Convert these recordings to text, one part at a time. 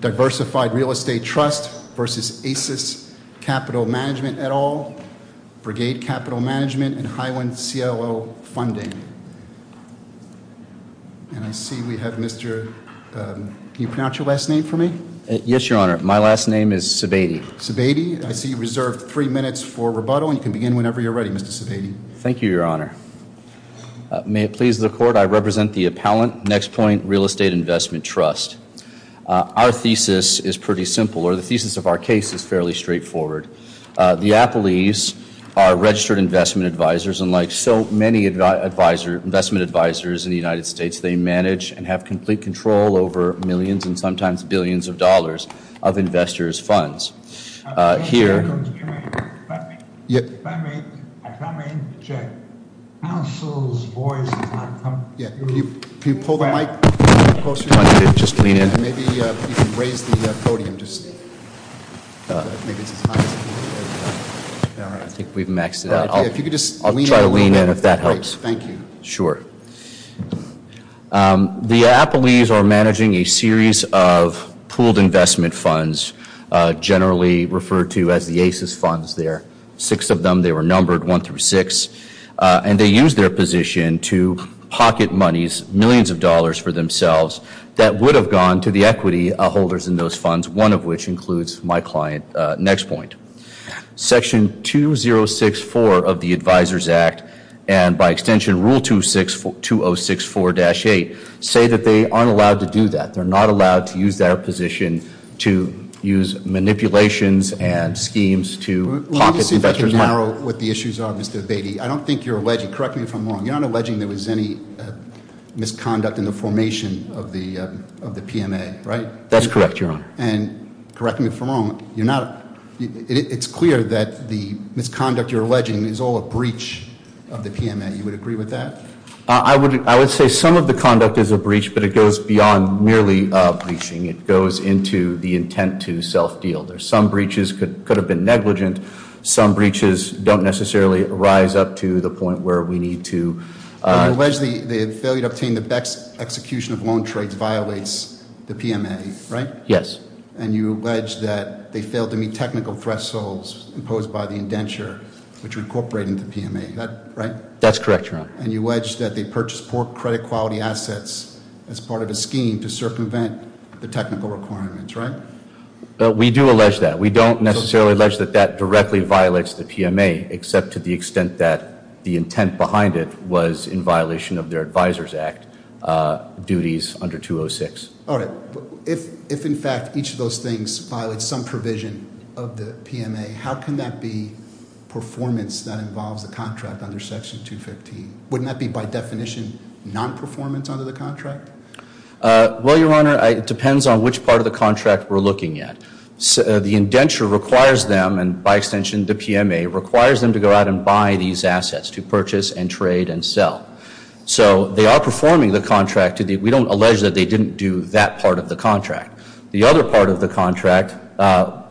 Diversified Real Estate Trust v. Acis Capital Management, et al., Brigade Capital Management, and Highland CLO Funding. And I see we have Mr., can you pronounce your last name for me? Yes, Your Honor, my last name is Sebade. Sebade, I see you reserved three minutes for rebuttal, and you can begin whenever you're ready, Mr. Sebade. Thank you, Your Honor. May it please the Court, I represent the appellant, NexPoint Real Estate Investment Trust. Our thesis is pretty simple, or the thesis of our case is fairly straightforward. The appellees are registered investment advisors, and like so many investment advisors in the United States, they manage and have complete control over millions and sometimes billions of dollars of investors' funds. If I may, I come in to check. Counsel's voice is not coming through. Can you pull the mic closer? I'm trying to just lean in. Maybe you can raise the podium just a little bit. Maybe it's as high as you can. I think we've maxed it out. I'll try to lean in if that helps. Great, thank you. Sure. The appellees are managing a series of pooled investment funds, generally referred to as the ACES funds there. Six of them, they were numbered one through six, and they use their position to pocket monies, millions of dollars for themselves, that would have gone to the equity holders in those funds, one of which includes my client NexPoint. Section 2064 of the Advisors Act, and by extension Rule 2064-8, say that they aren't allowed to do that. They're not allowed to use their position to use manipulations and schemes to pocket investors' money. Let me see if I can narrow what the issues are, Mr. Beatty. I don't think you're alleging, correct me if I'm wrong, you're not alleging there was any misconduct in the formation of the PMA, right? That's correct, Your Honor. And correct me if I'm wrong, it's clear that the misconduct you're alleging is all a breach of the PMA. You would agree with that? I would say some of the conduct is a breach, but it goes beyond merely breaching. It goes into the intent to self-deal. Some breaches could have been negligent. Some breaches don't necessarily rise up to the point where we need to- You allege the failure to obtain the BEX execution of loan trades violates the PMA, right? Yes. And you allege that they failed to meet technical thresholds imposed by the indenture, which would incorporate into the PMA, right? That's correct, Your Honor. And you allege that they purchased poor credit quality assets as part of a scheme to circumvent the technical requirements, right? We do allege that. We don't necessarily allege that that directly violates the PMA, except to the extent that the intent behind it was in violation of their Advisor's Act duties under 206. All right. If, in fact, each of those things violated some provision of the PMA, how can that be performance that involves the contract under Section 215? Wouldn't that be, by definition, non-performance under the contract? Well, Your Honor, it depends on which part of the contract we're looking at. The indenture requires them, and by extension the PMA, requires them to go out and buy these assets to purchase and trade and sell. So they are performing the contract. We don't allege that they didn't do that part of the contract. The other part of the contract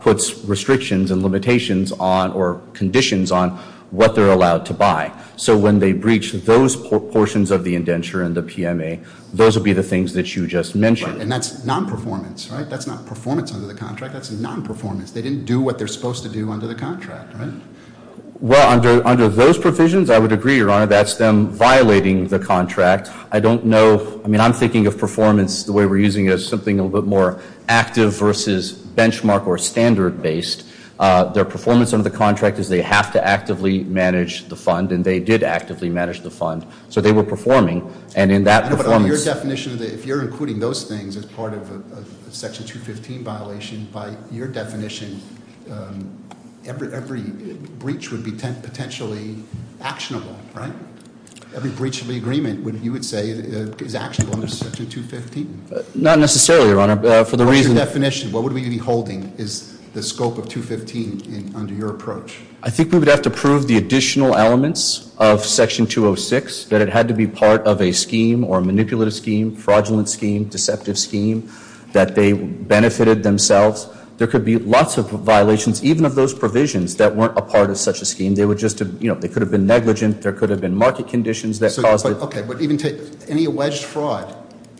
puts restrictions and limitations on or conditions on what they're allowed to buy. So when they breach those portions of the indenture and the PMA, those would be the things that you just mentioned. And that's non-performance, right? That's not performance under the contract. That's non-performance. They didn't do what they're supposed to do under the contract, right? Well, under those provisions, I would agree, Your Honor, that's them violating the contract. I don't know. I mean, I'm thinking of performance the way we're using it as something a little bit more active versus benchmark or standard-based. Their performance under the contract is they have to actively manage the fund, and they did actively manage the fund. So they were performing, and in that performance- But under your definition, if you're including those things as part of a Section 215 violation, by your definition, every breach would be potentially actionable, right? Every breach of the agreement, you would say, is actionable under Section 215? Not necessarily, Your Honor. For the reason- What's your definition? What would we be holding is the scope of 215 under your approach? I think we would have to prove the additional elements of Section 206, that it had to be part of a scheme or manipulative scheme, fraudulent scheme, deceptive scheme, that they benefited themselves. There could be lots of violations, even of those provisions, that weren't a part of such a scheme. They could have been negligent. There could have been market conditions that caused it. Okay, but even any alleged fraud,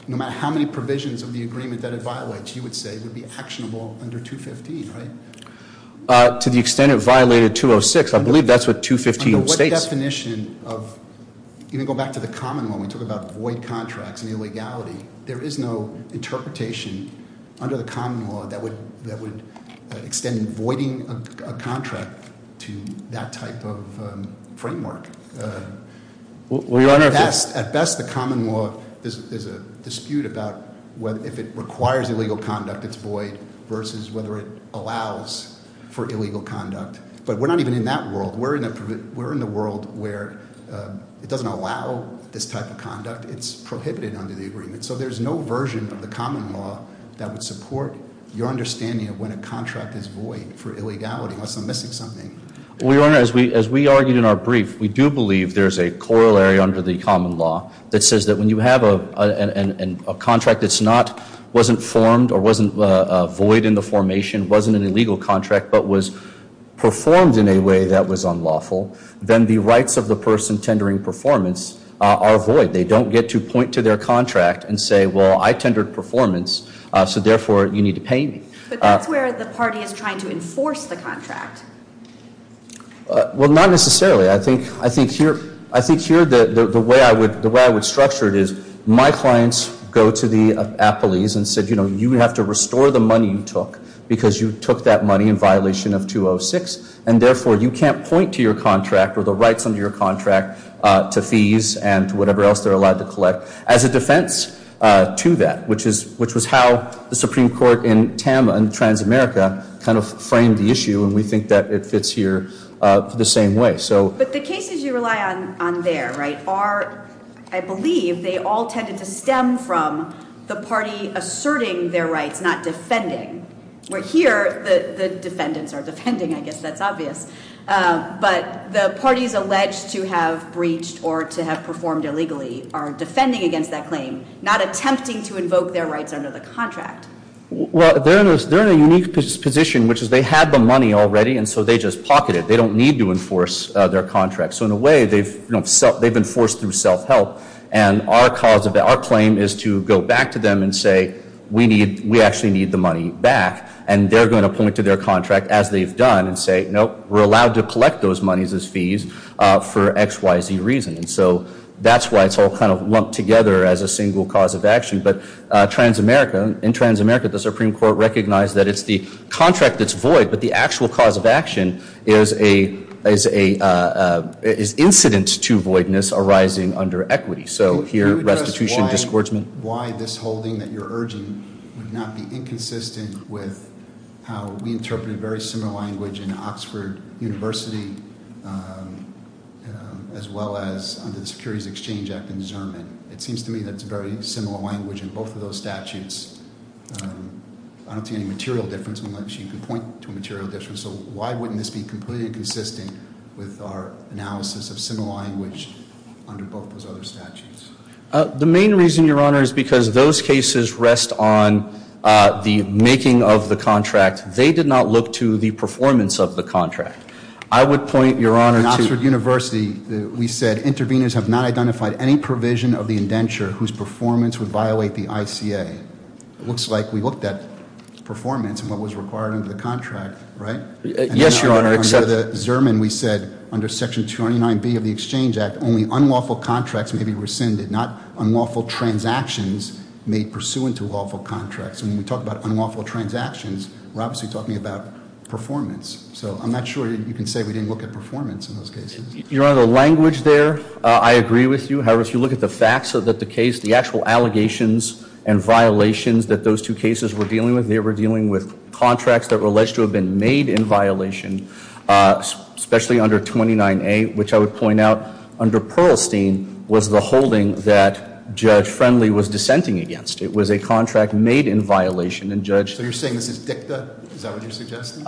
no matter how many provisions of the agreement that it violates, you would say would be actionable under 215, right? To the extent it violated 206, I believe that's what 215 states. Under what definition of, even going back to the common law, when we talk about void contracts and illegality, there is no interpretation under the common law that would extend voiding a contract to that type of framework. At best, the common law is a dispute about if it requires illegal conduct, it's void, versus whether it allows for illegal conduct. But we're not even in that world. We're in the world where it doesn't allow this type of conduct. It's prohibited under the agreement. So there's no version of the common law that would support your understanding of when a contract is void for illegality, unless I'm missing something. Well, Your Honor, as we argued in our brief, we do believe there's a corollary under the common law that says that when you have a contract that's not, wasn't formed or wasn't void in the formation, wasn't an illegal contract, but was performed in a way that was unlawful, then the rights of the person tendering performance are void. They don't get to point to their contract and say, well, I tendered performance, so therefore you need to pay me. But that's where the party is trying to enforce the contract. Well, not necessarily. I think here the way I would structure it is my clients go to the appellees and said, you know, you have to restore the money you took because you took that money in violation of 206, and therefore you can't point to your contract or the rights under your contract to fees and to whatever else they're allowed to collect as a defense to that, which was how the Supreme Court in TAMA and Transamerica kind of framed the issue, and we think that it fits here the same way. But the cases you rely on there are, I believe, they all tended to stem from the party asserting their rights, not defending. Where here the defendants are defending. I guess that's obvious. But the parties alleged to have breached or to have performed illegally are defending against that claim, not attempting to invoke their rights under the contract. Well, they're in a unique position, which is they have the money already, and so they just pocket it. They don't need to enforce their contract. So in a way, they've been forced through self-help, and our claim is to go back to them and say, we actually need the money back, and they're going to point to their contract as they've done and say, nope, we're allowed to collect those monies as fees for XYZ reasons. So that's why it's all kind of lumped together as a single cause of action. But in Transamerica, the Supreme Court recognized that it's the contract that's void, but the actual cause of action is incident to voidness arising under equity. So here, restitution, disgorgement. Why this holding that you're urging would not be inconsistent with how we interpret a very similar language in Oxford University, as well as under the Securities Exchange Act and Zerman. It seems to me that it's a very similar language in both of those statutes. I don't see any material difference, unless you can point to a material difference. So why wouldn't this be completely consistent with our analysis of similar language under both those other statutes? The main reason, Your Honor, is because those cases rest on the making of the contract. They did not look to the performance of the contract. I would point, Your Honor, to- In Oxford University, we said, Intervenors have not identified any provision of the indenture whose performance would violate the ICA. It looks like we looked at performance and what was required under the contract, right? Yes, Your Honor, except- Under the Zerman, we said, under Section 209B of the Exchange Act, only unlawful contracts may be rescinded, not unlawful transactions made pursuant to lawful contracts. And when we talk about unlawful transactions, we're obviously talking about performance. So I'm not sure you can say we didn't look at performance in those cases. Your Honor, the language there, I agree with you. However, if you look at the facts of the case, the actual allegations and violations that those two cases were dealing with, they were dealing with contracts that were alleged to have been made in violation, especially under 29A, which I would point out under Perlstein was the holding that Judge Friendly was dissenting against. It was a contract made in violation, and Judge- So you're saying this is dicta? Is that what you're suggesting?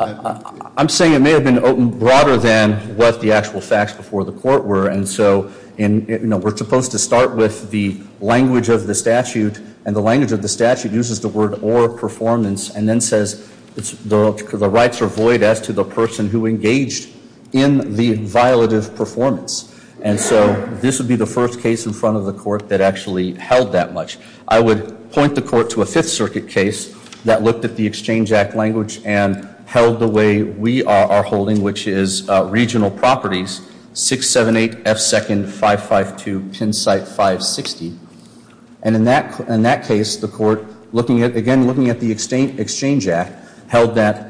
I'm saying it may have been broader than what the actual facts before the court were, and so we're supposed to start with the language of the statute, and the language of the statute uses the word or performance, and then says the rights are void as to the person who engaged in the violative performance. And so this would be the first case in front of the court that actually held that much. I would point the court to a Fifth Circuit case that looked at the Exchange Act language and held the way we are holding, which is regional properties, 678 F. 2nd. 552 Pennsite 560. And in that case, the court, again, looking at the Exchange Act, held that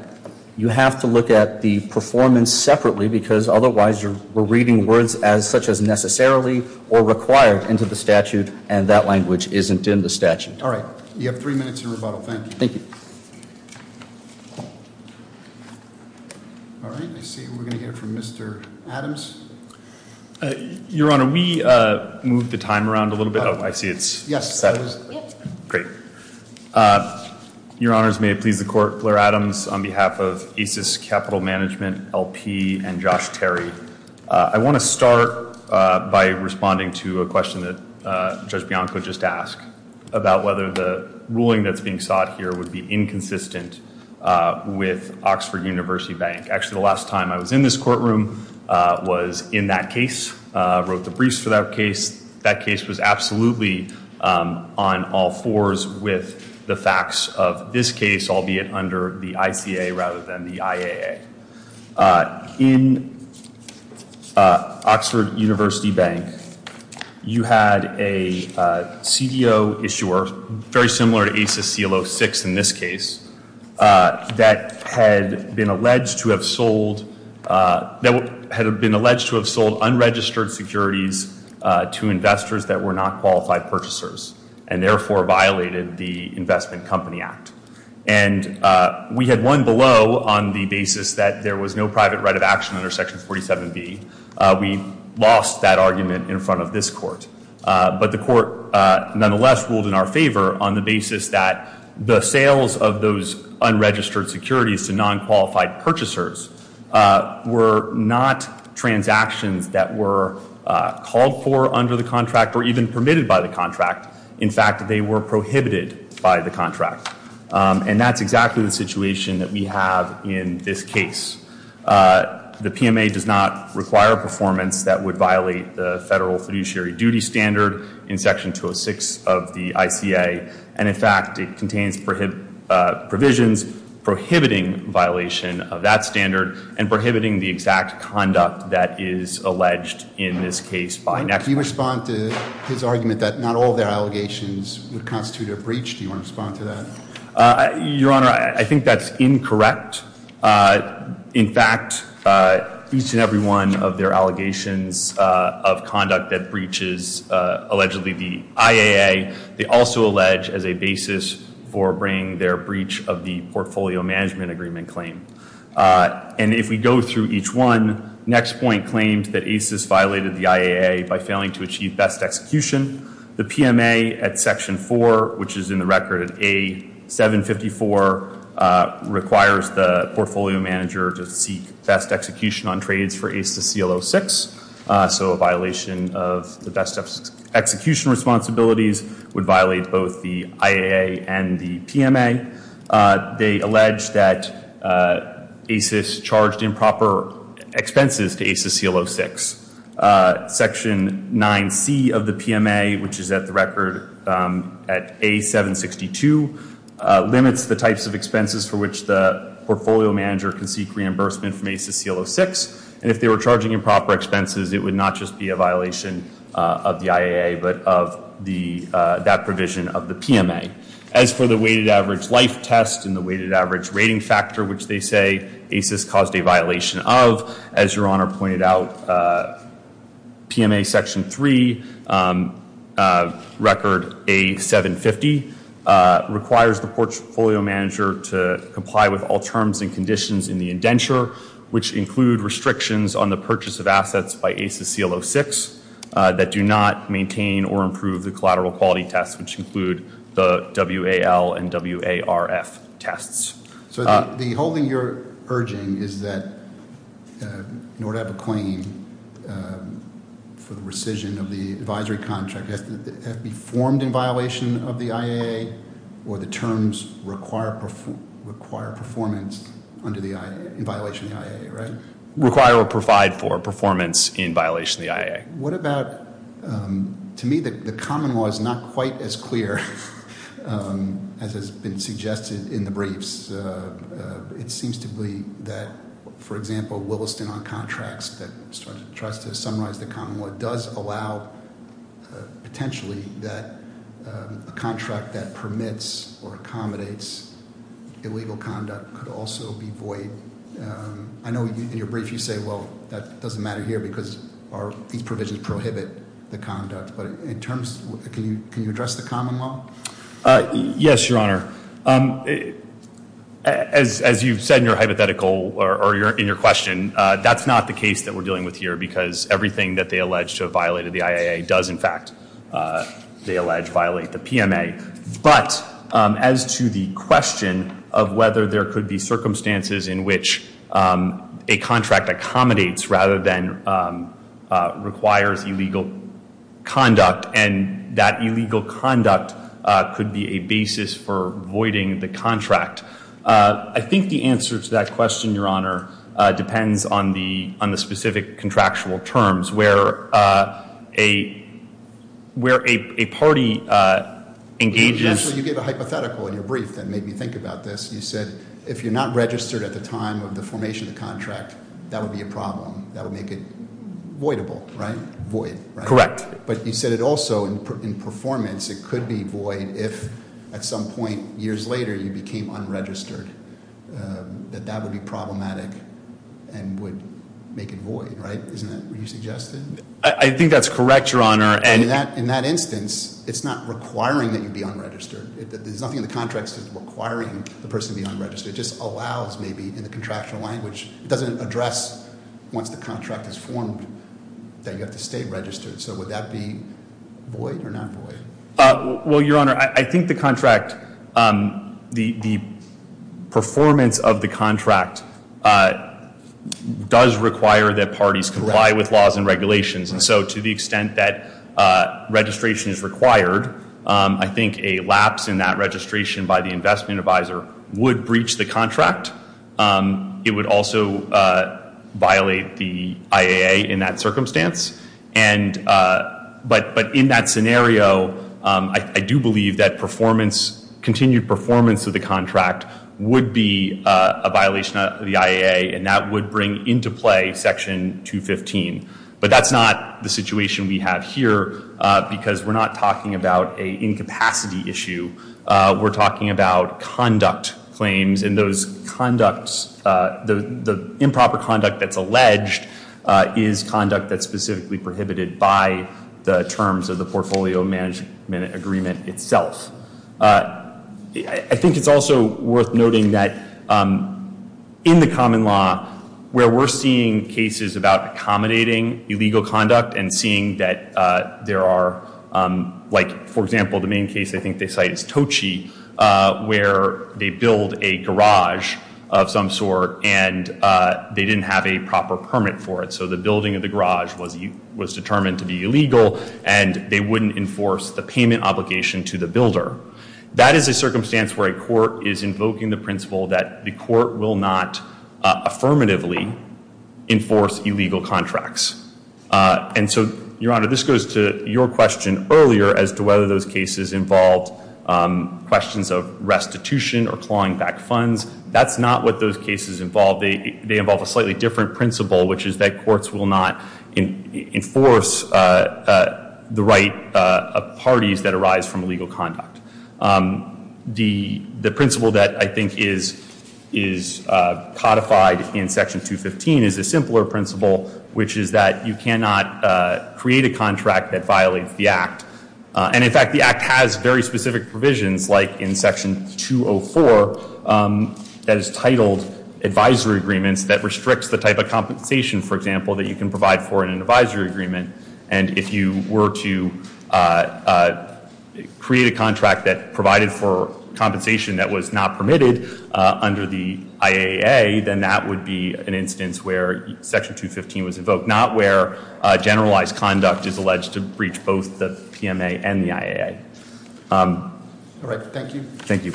you have to look at the performance separately because otherwise you're reading words such as necessarily or required into the statute, and that language isn't in the statute. All right. You have three minutes in rebuttal. Thank you. Thank you. All right. I see we're going to hear from Mr. Adams. Your Honor, we moved the time around a little bit. Oh, I see it's- Yes. Great. Your Honors, may it please the Court, Blair Adams on behalf of ACES Capital Management, LP, and Josh Terry. I want to start by responding to a question that Judge Bianco just asked about whether the ruling that's being sought here would be inconsistent with Oxford University Bank. Actually, the last time I was in this courtroom was in that case. I wrote the briefs for that case. That case was absolutely on all fours with the facts of this case, albeit under the ICA rather than the IAA. In Oxford University Bank, you had a CDO issuer, very similar to ACES CLO 6 in this case, that had been alleged to have sold unregistered securities to investors that were not qualified purchasers and therefore violated the Investment Company Act. We had one below on the basis that there was no private right of action under Section 47B. We lost that argument in front of this Court. But the Court nonetheless ruled in our favor on the basis that the sales of those unregistered securities to non-qualified purchasers were not transactions that were called for under the contract or even permitted by the contract. In fact, they were prohibited by the contract. And that's exactly the situation that we have in this case. The PMA does not require a performance that would violate the federal fiduciary duty standard in Section 206 of the ICA. And in fact, it contains provisions prohibiting violation of that standard and prohibiting the exact conduct that is alleged in this case by next court. If you respond to his argument that not all their allegations would constitute a breach, do you want to respond to that? Your Honor, I think that's incorrect. In fact, each and every one of their allegations of conduct that breaches allegedly the IAA, they also allege as a basis for bringing their breach of the Portfolio Management Agreement claim. And if we go through each one, next point claims that ACES violated the IAA by failing to achieve best execution. The PMA at Section 4, which is in the record at A754, requires the Portfolio Manager to seek best execution on trades for ACES CL06. So a violation of the best execution responsibilities would violate both the IAA and the PMA. They allege that ACES charged improper expenses to ACES CL06. Section 9C of the PMA, which is at the record at A762, limits the types of expenses for which the Portfolio Manager can seek reimbursement from ACES CL06. And if they were charging improper expenses, it would not just be a violation of the IAA, but of that provision of the PMA. As for the Weighted Average Life Test and the Weighted Average Rating Factor, which they say ACES caused a violation of, as Your Honor pointed out, PMA Section 3, record A750, requires the Portfolio Manager to comply with all terms and conditions in the indenture, which include restrictions on the purchase of assets by ACES CL06 that do not maintain or improve the collateral quality tests, which include the WAL and WARF tests. So the whole thing you're urging is that in order to have a claim for the rescission of the advisory contract, it has to be formed in violation of the IAA, or the terms require performance in violation of the IAA, right? Require or provide for performance in violation of the IAA. What about, to me, the common law is not quite as clear as has been suggested in the briefs. It seems to be that, for example, Williston on contracts that tries to summarize the common law, does allow potentially that a contract that permits or accommodates illegal conduct could also be void. I know in your brief you say, well, that doesn't matter here because these provisions prohibit the conduct. But in terms, can you address the common law? Yes, Your Honor. As you've said in your hypothetical, or in your question, that's not the case that we're dealing with here, because everything that they allege to have violated the IAA does, in fact, they allege violate the PMA. But, as to the question of whether there could be circumstances in which a contract accommodates rather than requires illegal conduct, and that illegal conduct could be a basis for voiding the contract. I think the answer to that question, Your Honor, depends on the specific contractual terms. Where a party engages- Actually, you gave a hypothetical in your brief that made me think about this. You said, if you're not registered at the time of the formation of the contract, that would be a problem. That would make it voidable, right? Void, right? Correct. But you said it also, in performance, it could be void if, at some point years later, you became unregistered, that that would be problematic and would make it void, right? Isn't that what you suggested? I think that's correct, Your Honor. And in that instance, it's not requiring that you be unregistered. There's nothing in the contract that's requiring the person to be unregistered. It just allows, maybe, in the contractual language, it doesn't address once the contract is formed that you have to stay registered. So would that be void or not void? Well, Your Honor, I think the contract, the performance of the contract does require that parties comply with laws and regulations. So to the extent that registration is required, I think a lapse in that registration by the investment advisor would breach the contract. It would also violate the IAA in that circumstance. But in that scenario, I do believe that performance, continued performance of the contract would be a violation of the IAA, and that would bring into play Section 215. But that's not the situation we have here, because we're not talking about a incapacity issue. We're talking about conduct claims. And those conducts, the improper conduct that's alleged is conduct that's specifically prohibited by the terms of the portfolio management agreement itself. I think it's also worth noting that in the common law, where we're seeing cases about accommodating illegal conduct and seeing that there are, like, for example, the main case I think they cite is Tochi, where they build a garage of some sort, and they didn't have a proper permit for it. So the building of the garage was determined to be illegal, and they wouldn't enforce the payment obligation to the builder. That is a circumstance where a court is invoking the principle that the court will not affirmatively enforce illegal contracts. And so, your honor, this goes to your question earlier as to whether those cases involved questions of restitution or clawing back funds. That's not what those cases involve. They involve a slightly different principle, which is that courts will not enforce the right of parties that arise from illegal conduct. The principle that I think is codified in Section 215 is a simpler principle, which is that you cannot create a contract that violates the act. And in fact, the act has very specific provisions, like in Section 204, that is titled advisory agreements that restricts the type of compensation, for example, that you can provide for in an advisory agreement. And if you were to create a contract that provided for compensation that was not permitted under the IAA, then that would be an instance where Section 215 was invoked. But not where generalized conduct is alleged to breach both the PMA and the IAA. All right, thank you. Thank you.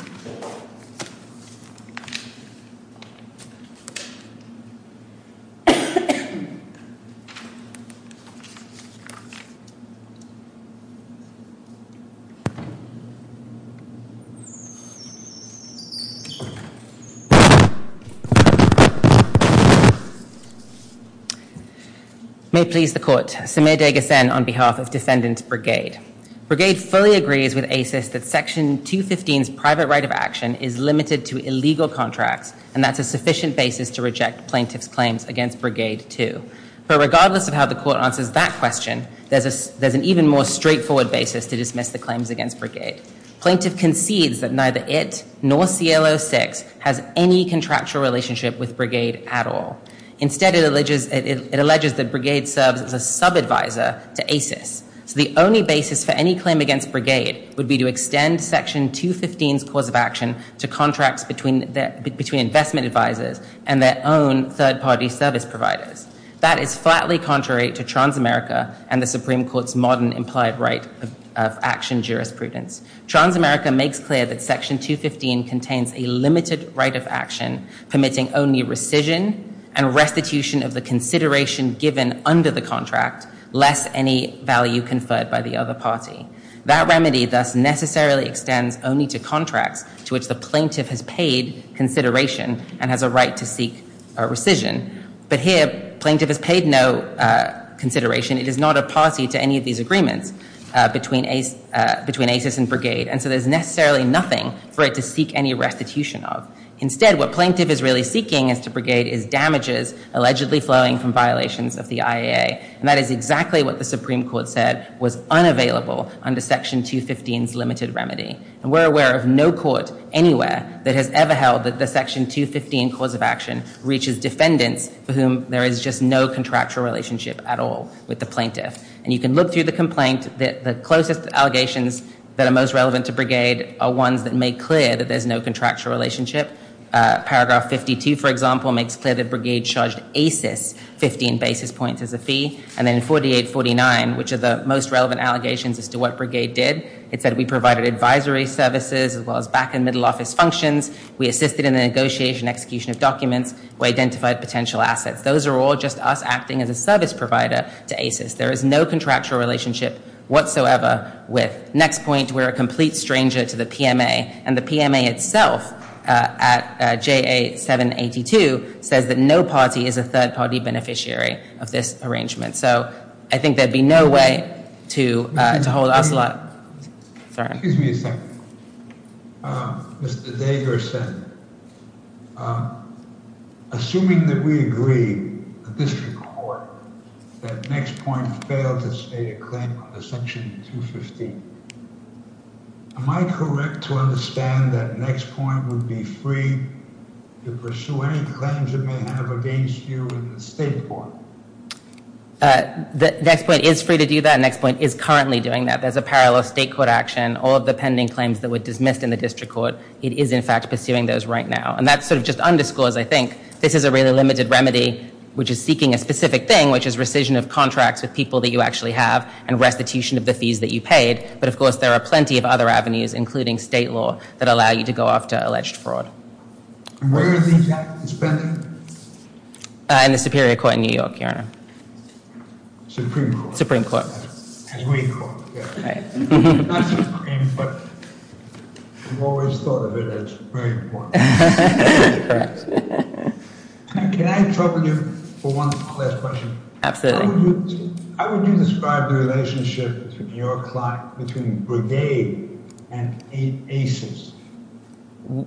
May it please the court, Samir Degasen on behalf of Defendant Brigade. Brigade fully agrees with ACES that Section 215's private right of action is limited to illegal contracts, and that's a sufficient basis to reject plaintiff's claims against Brigade 2. But regardless of how the court answers that question, there's an even more straightforward basis to dismiss the claims against Brigade. Plaintiff concedes that neither it nor CL06 has any contractual relationship with Brigade at all. Instead, it alleges that Brigade serves as a sub-advisor to ACES. So the only basis for any claim against Brigade would be to extend Section 215's cause of action to contracts between investment advisors and their own third-party service providers. That is flatly contrary to Transamerica and the Supreme Court's modern implied right of action jurisprudence. Transamerica makes clear that Section 215 contains a limited right of action permitting only rescission and restitution of the consideration given under the contract, less any value conferred by the other party. That remedy thus necessarily extends only to contracts to which the plaintiff has paid consideration and has a right to seek rescission. But here, plaintiff has paid no consideration. It is not a party to any of these agreements between ACES and Brigade. And so there's necessarily nothing for it to seek any restitution of. Instead, what plaintiff is really seeking is to Brigade is damages allegedly flowing from violations of the IAA. And that is exactly what the Supreme Court said was unavailable under Section 215's limited remedy. And we're aware of no court anywhere that has ever held that the Section 215 cause of action reaches defendants for whom there is just no contractual relationship at all with the plaintiff. And you can look through the complaint. The closest allegations that are most relevant to Brigade are ones that make clear that there's no contractual relationship. Paragraph 52, for example, makes clear that Brigade charged ACES 15 basis points as a fee. And then 4849, which are the most relevant allegations as to what Brigade did. It said we provided advisory services as well as back and middle office functions. We assisted in the negotiation execution of documents. We identified potential assets. Those are all just us acting as a service provider to ACES. There is no contractual relationship whatsoever with. Next point, we're a complete stranger to the PMA. And the PMA itself at JA 782 says that no party is a third party beneficiary of this arrangement. Excuse me a second. Mr. Dagerson, assuming that we agree at this report that Nextpoint failed to state a claim on the Section 215, am I correct to understand that Nextpoint would be free to pursue any claims it may have against you in the state court? Nextpoint is free to do that. Nextpoint is currently doing that. There's a parallel state court action, all of the pending claims that were dismissed in the district court. It is, in fact, pursuing those right now. And that sort of just underscores, I think, this is a really limited remedy, which is seeking a specific thing, which is rescission of contracts with people that you actually have and restitution of the fees that you paid. But of course, there are plenty of other avenues, including state law, that allow you to go after alleged fraud. And where are these activities pending? In the Superior Court in New York, Your Honor. Supreme Court. Supreme Court. As we call it. Right. Not Supreme, but we've always thought of it as very important. Can I trouble you for one last question? Absolutely. How would you describe the relationship between your client, between Brigade and ACES?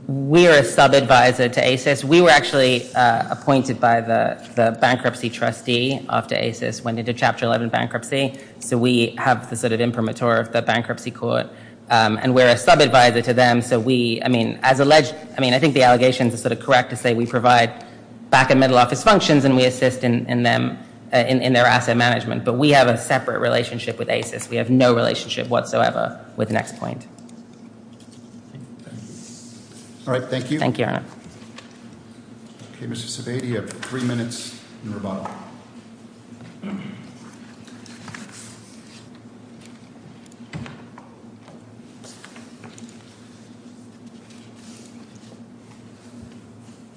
We are a sub-advisor to ACES. We were actually appointed by the bankruptcy trustee after ACES went into Chapter 11 bankruptcy. So we have the sort of imprimatur of the bankruptcy court. And we're a sub-advisor to them. So we, I mean, I think the allegations are sort of correct to say we provide back and middle office functions and we assist in their asset management. But we have a separate relationship with ACES. We have no relationship whatsoever with Nextpoint. All right, thank you. Thank you, Your Honor. Okay, Mr. Sebade, you have three minutes in rebuttal.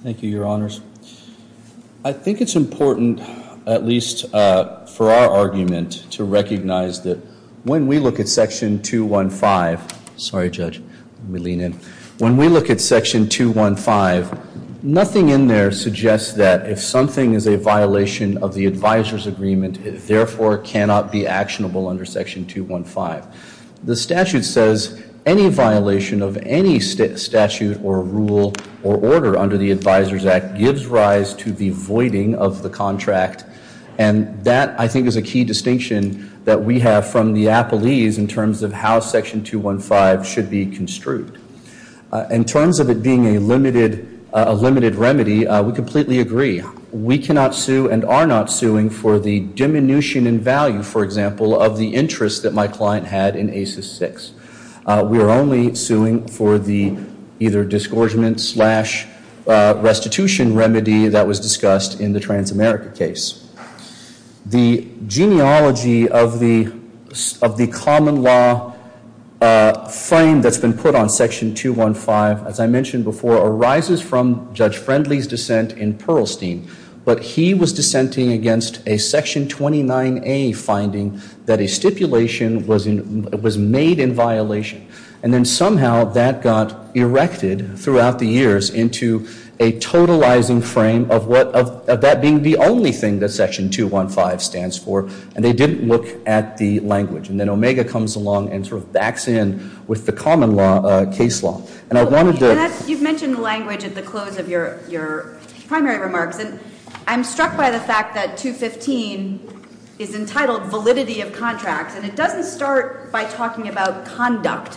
Thank you, Your Honors. I think it's important, at least for our argument, to recognize that when we look at section 215, sorry judge, let me lean in. When we look at section 215, nothing in there suggests that if something is a violation of the advisor's agreement, it therefore cannot be actionable under section 215. The statute says any violation of any statute or rule or order under the Advisor's Act gives rise to the voiding of the contract. And that, I think, is a key distinction that we have from the appellees in terms of how section 215 should be construed. In terms of it being a limited remedy, we completely agree. We cannot sue and are not suing for the diminution in value, for example, of the interest that my client had in ACES 6. We are only suing for the either disgorgement slash restitution remedy that was discussed in the Transamerica case. The genealogy of the common law frame that's been put on section 215, as I mentioned before, arises from Judge Friendly's dissent in Pearlstein. But he was dissenting against a section 29A finding that a stipulation was made in violation. And then somehow that got erected throughout the years into a totalizing frame of that being the only thing that section 215 stands for. And they didn't look at the language. And then Omega comes along and sort of backs in with the common case law. And I wanted to- You've mentioned the language at the close of your primary remarks. And I'm struck by the fact that 215 is entitled validity of contracts. And it doesn't start by talking about conduct.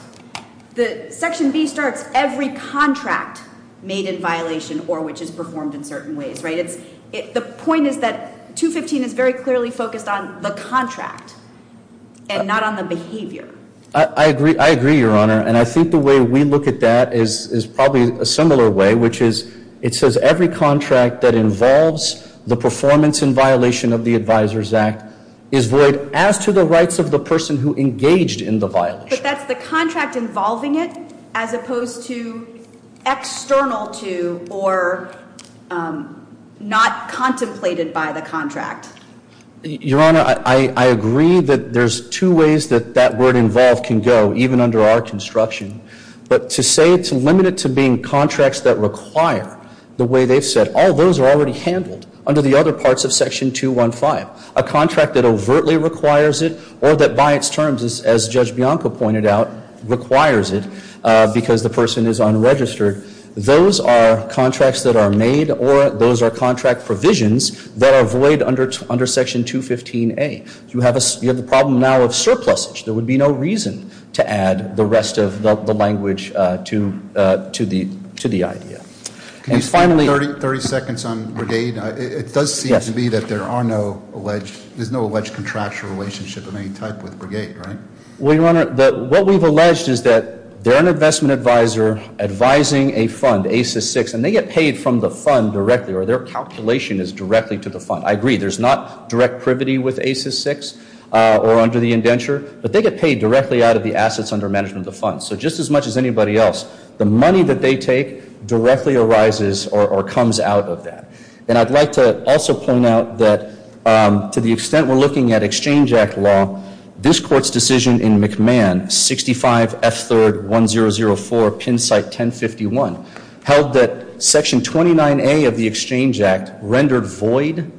The section B starts every contract made in violation or which is performed in certain ways, right? The point is that 215 is very clearly focused on the contract and not on the behavior. I agree, I agree, Your Honor. And I think the way we look at that is probably a similar way, which is, it says every contract that involves the performance in violation of the Advisor's Act is void as to the rights of the person who engaged in the violation. But that's the contract involving it as opposed to external to or not contemplated by the contract. Your Honor, I agree that there's two ways that that word involved can go, even under our construction. But to say it's limited to being contracts that require the way they've said, all those are already handled under the other parts of section 215. A contract that overtly requires it or that by its terms, as Judge Bianco pointed out, requires it because the person is unregistered, those are contracts that are made or those are contract provisions that are void under section 215A. You have the problem now of surplusage. There would be no reason to add the rest of the language to the idea. And finally- 30 seconds on Brigade. It does seem to be that there are no alleged, there's no alleged contractual relationship of any type with Brigade, right? Well, Your Honor, what we've alleged is that they're an investment advisor advising a fund, ACES VI, and they get paid from the fund directly, or their calculation is directly to the fund. I agree, there's not direct privity with ACES VI or under the indenture. But they get paid directly out of the assets under management of the fund. So just as much as anybody else, the money that they take directly arises or comes out of that. And I'd like to also point out that to the extent we're looking at Exchange Act law, this court's decision in McMahon, 65 F3rd 1004, pin site 1051, held that section 29A of the Exchange Act rendered void.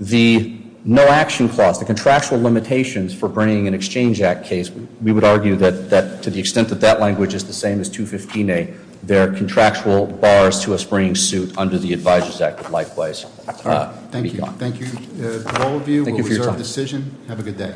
The no action clause, the contractual limitations for bringing an Exchange Act case, we would argue that to the extent that that language is the same as 215A, there are contractual bars to us bringing suit under the Advisors Act likewise. Thank you. Thank you. All of you, we'll reserve the decision. Have a good day.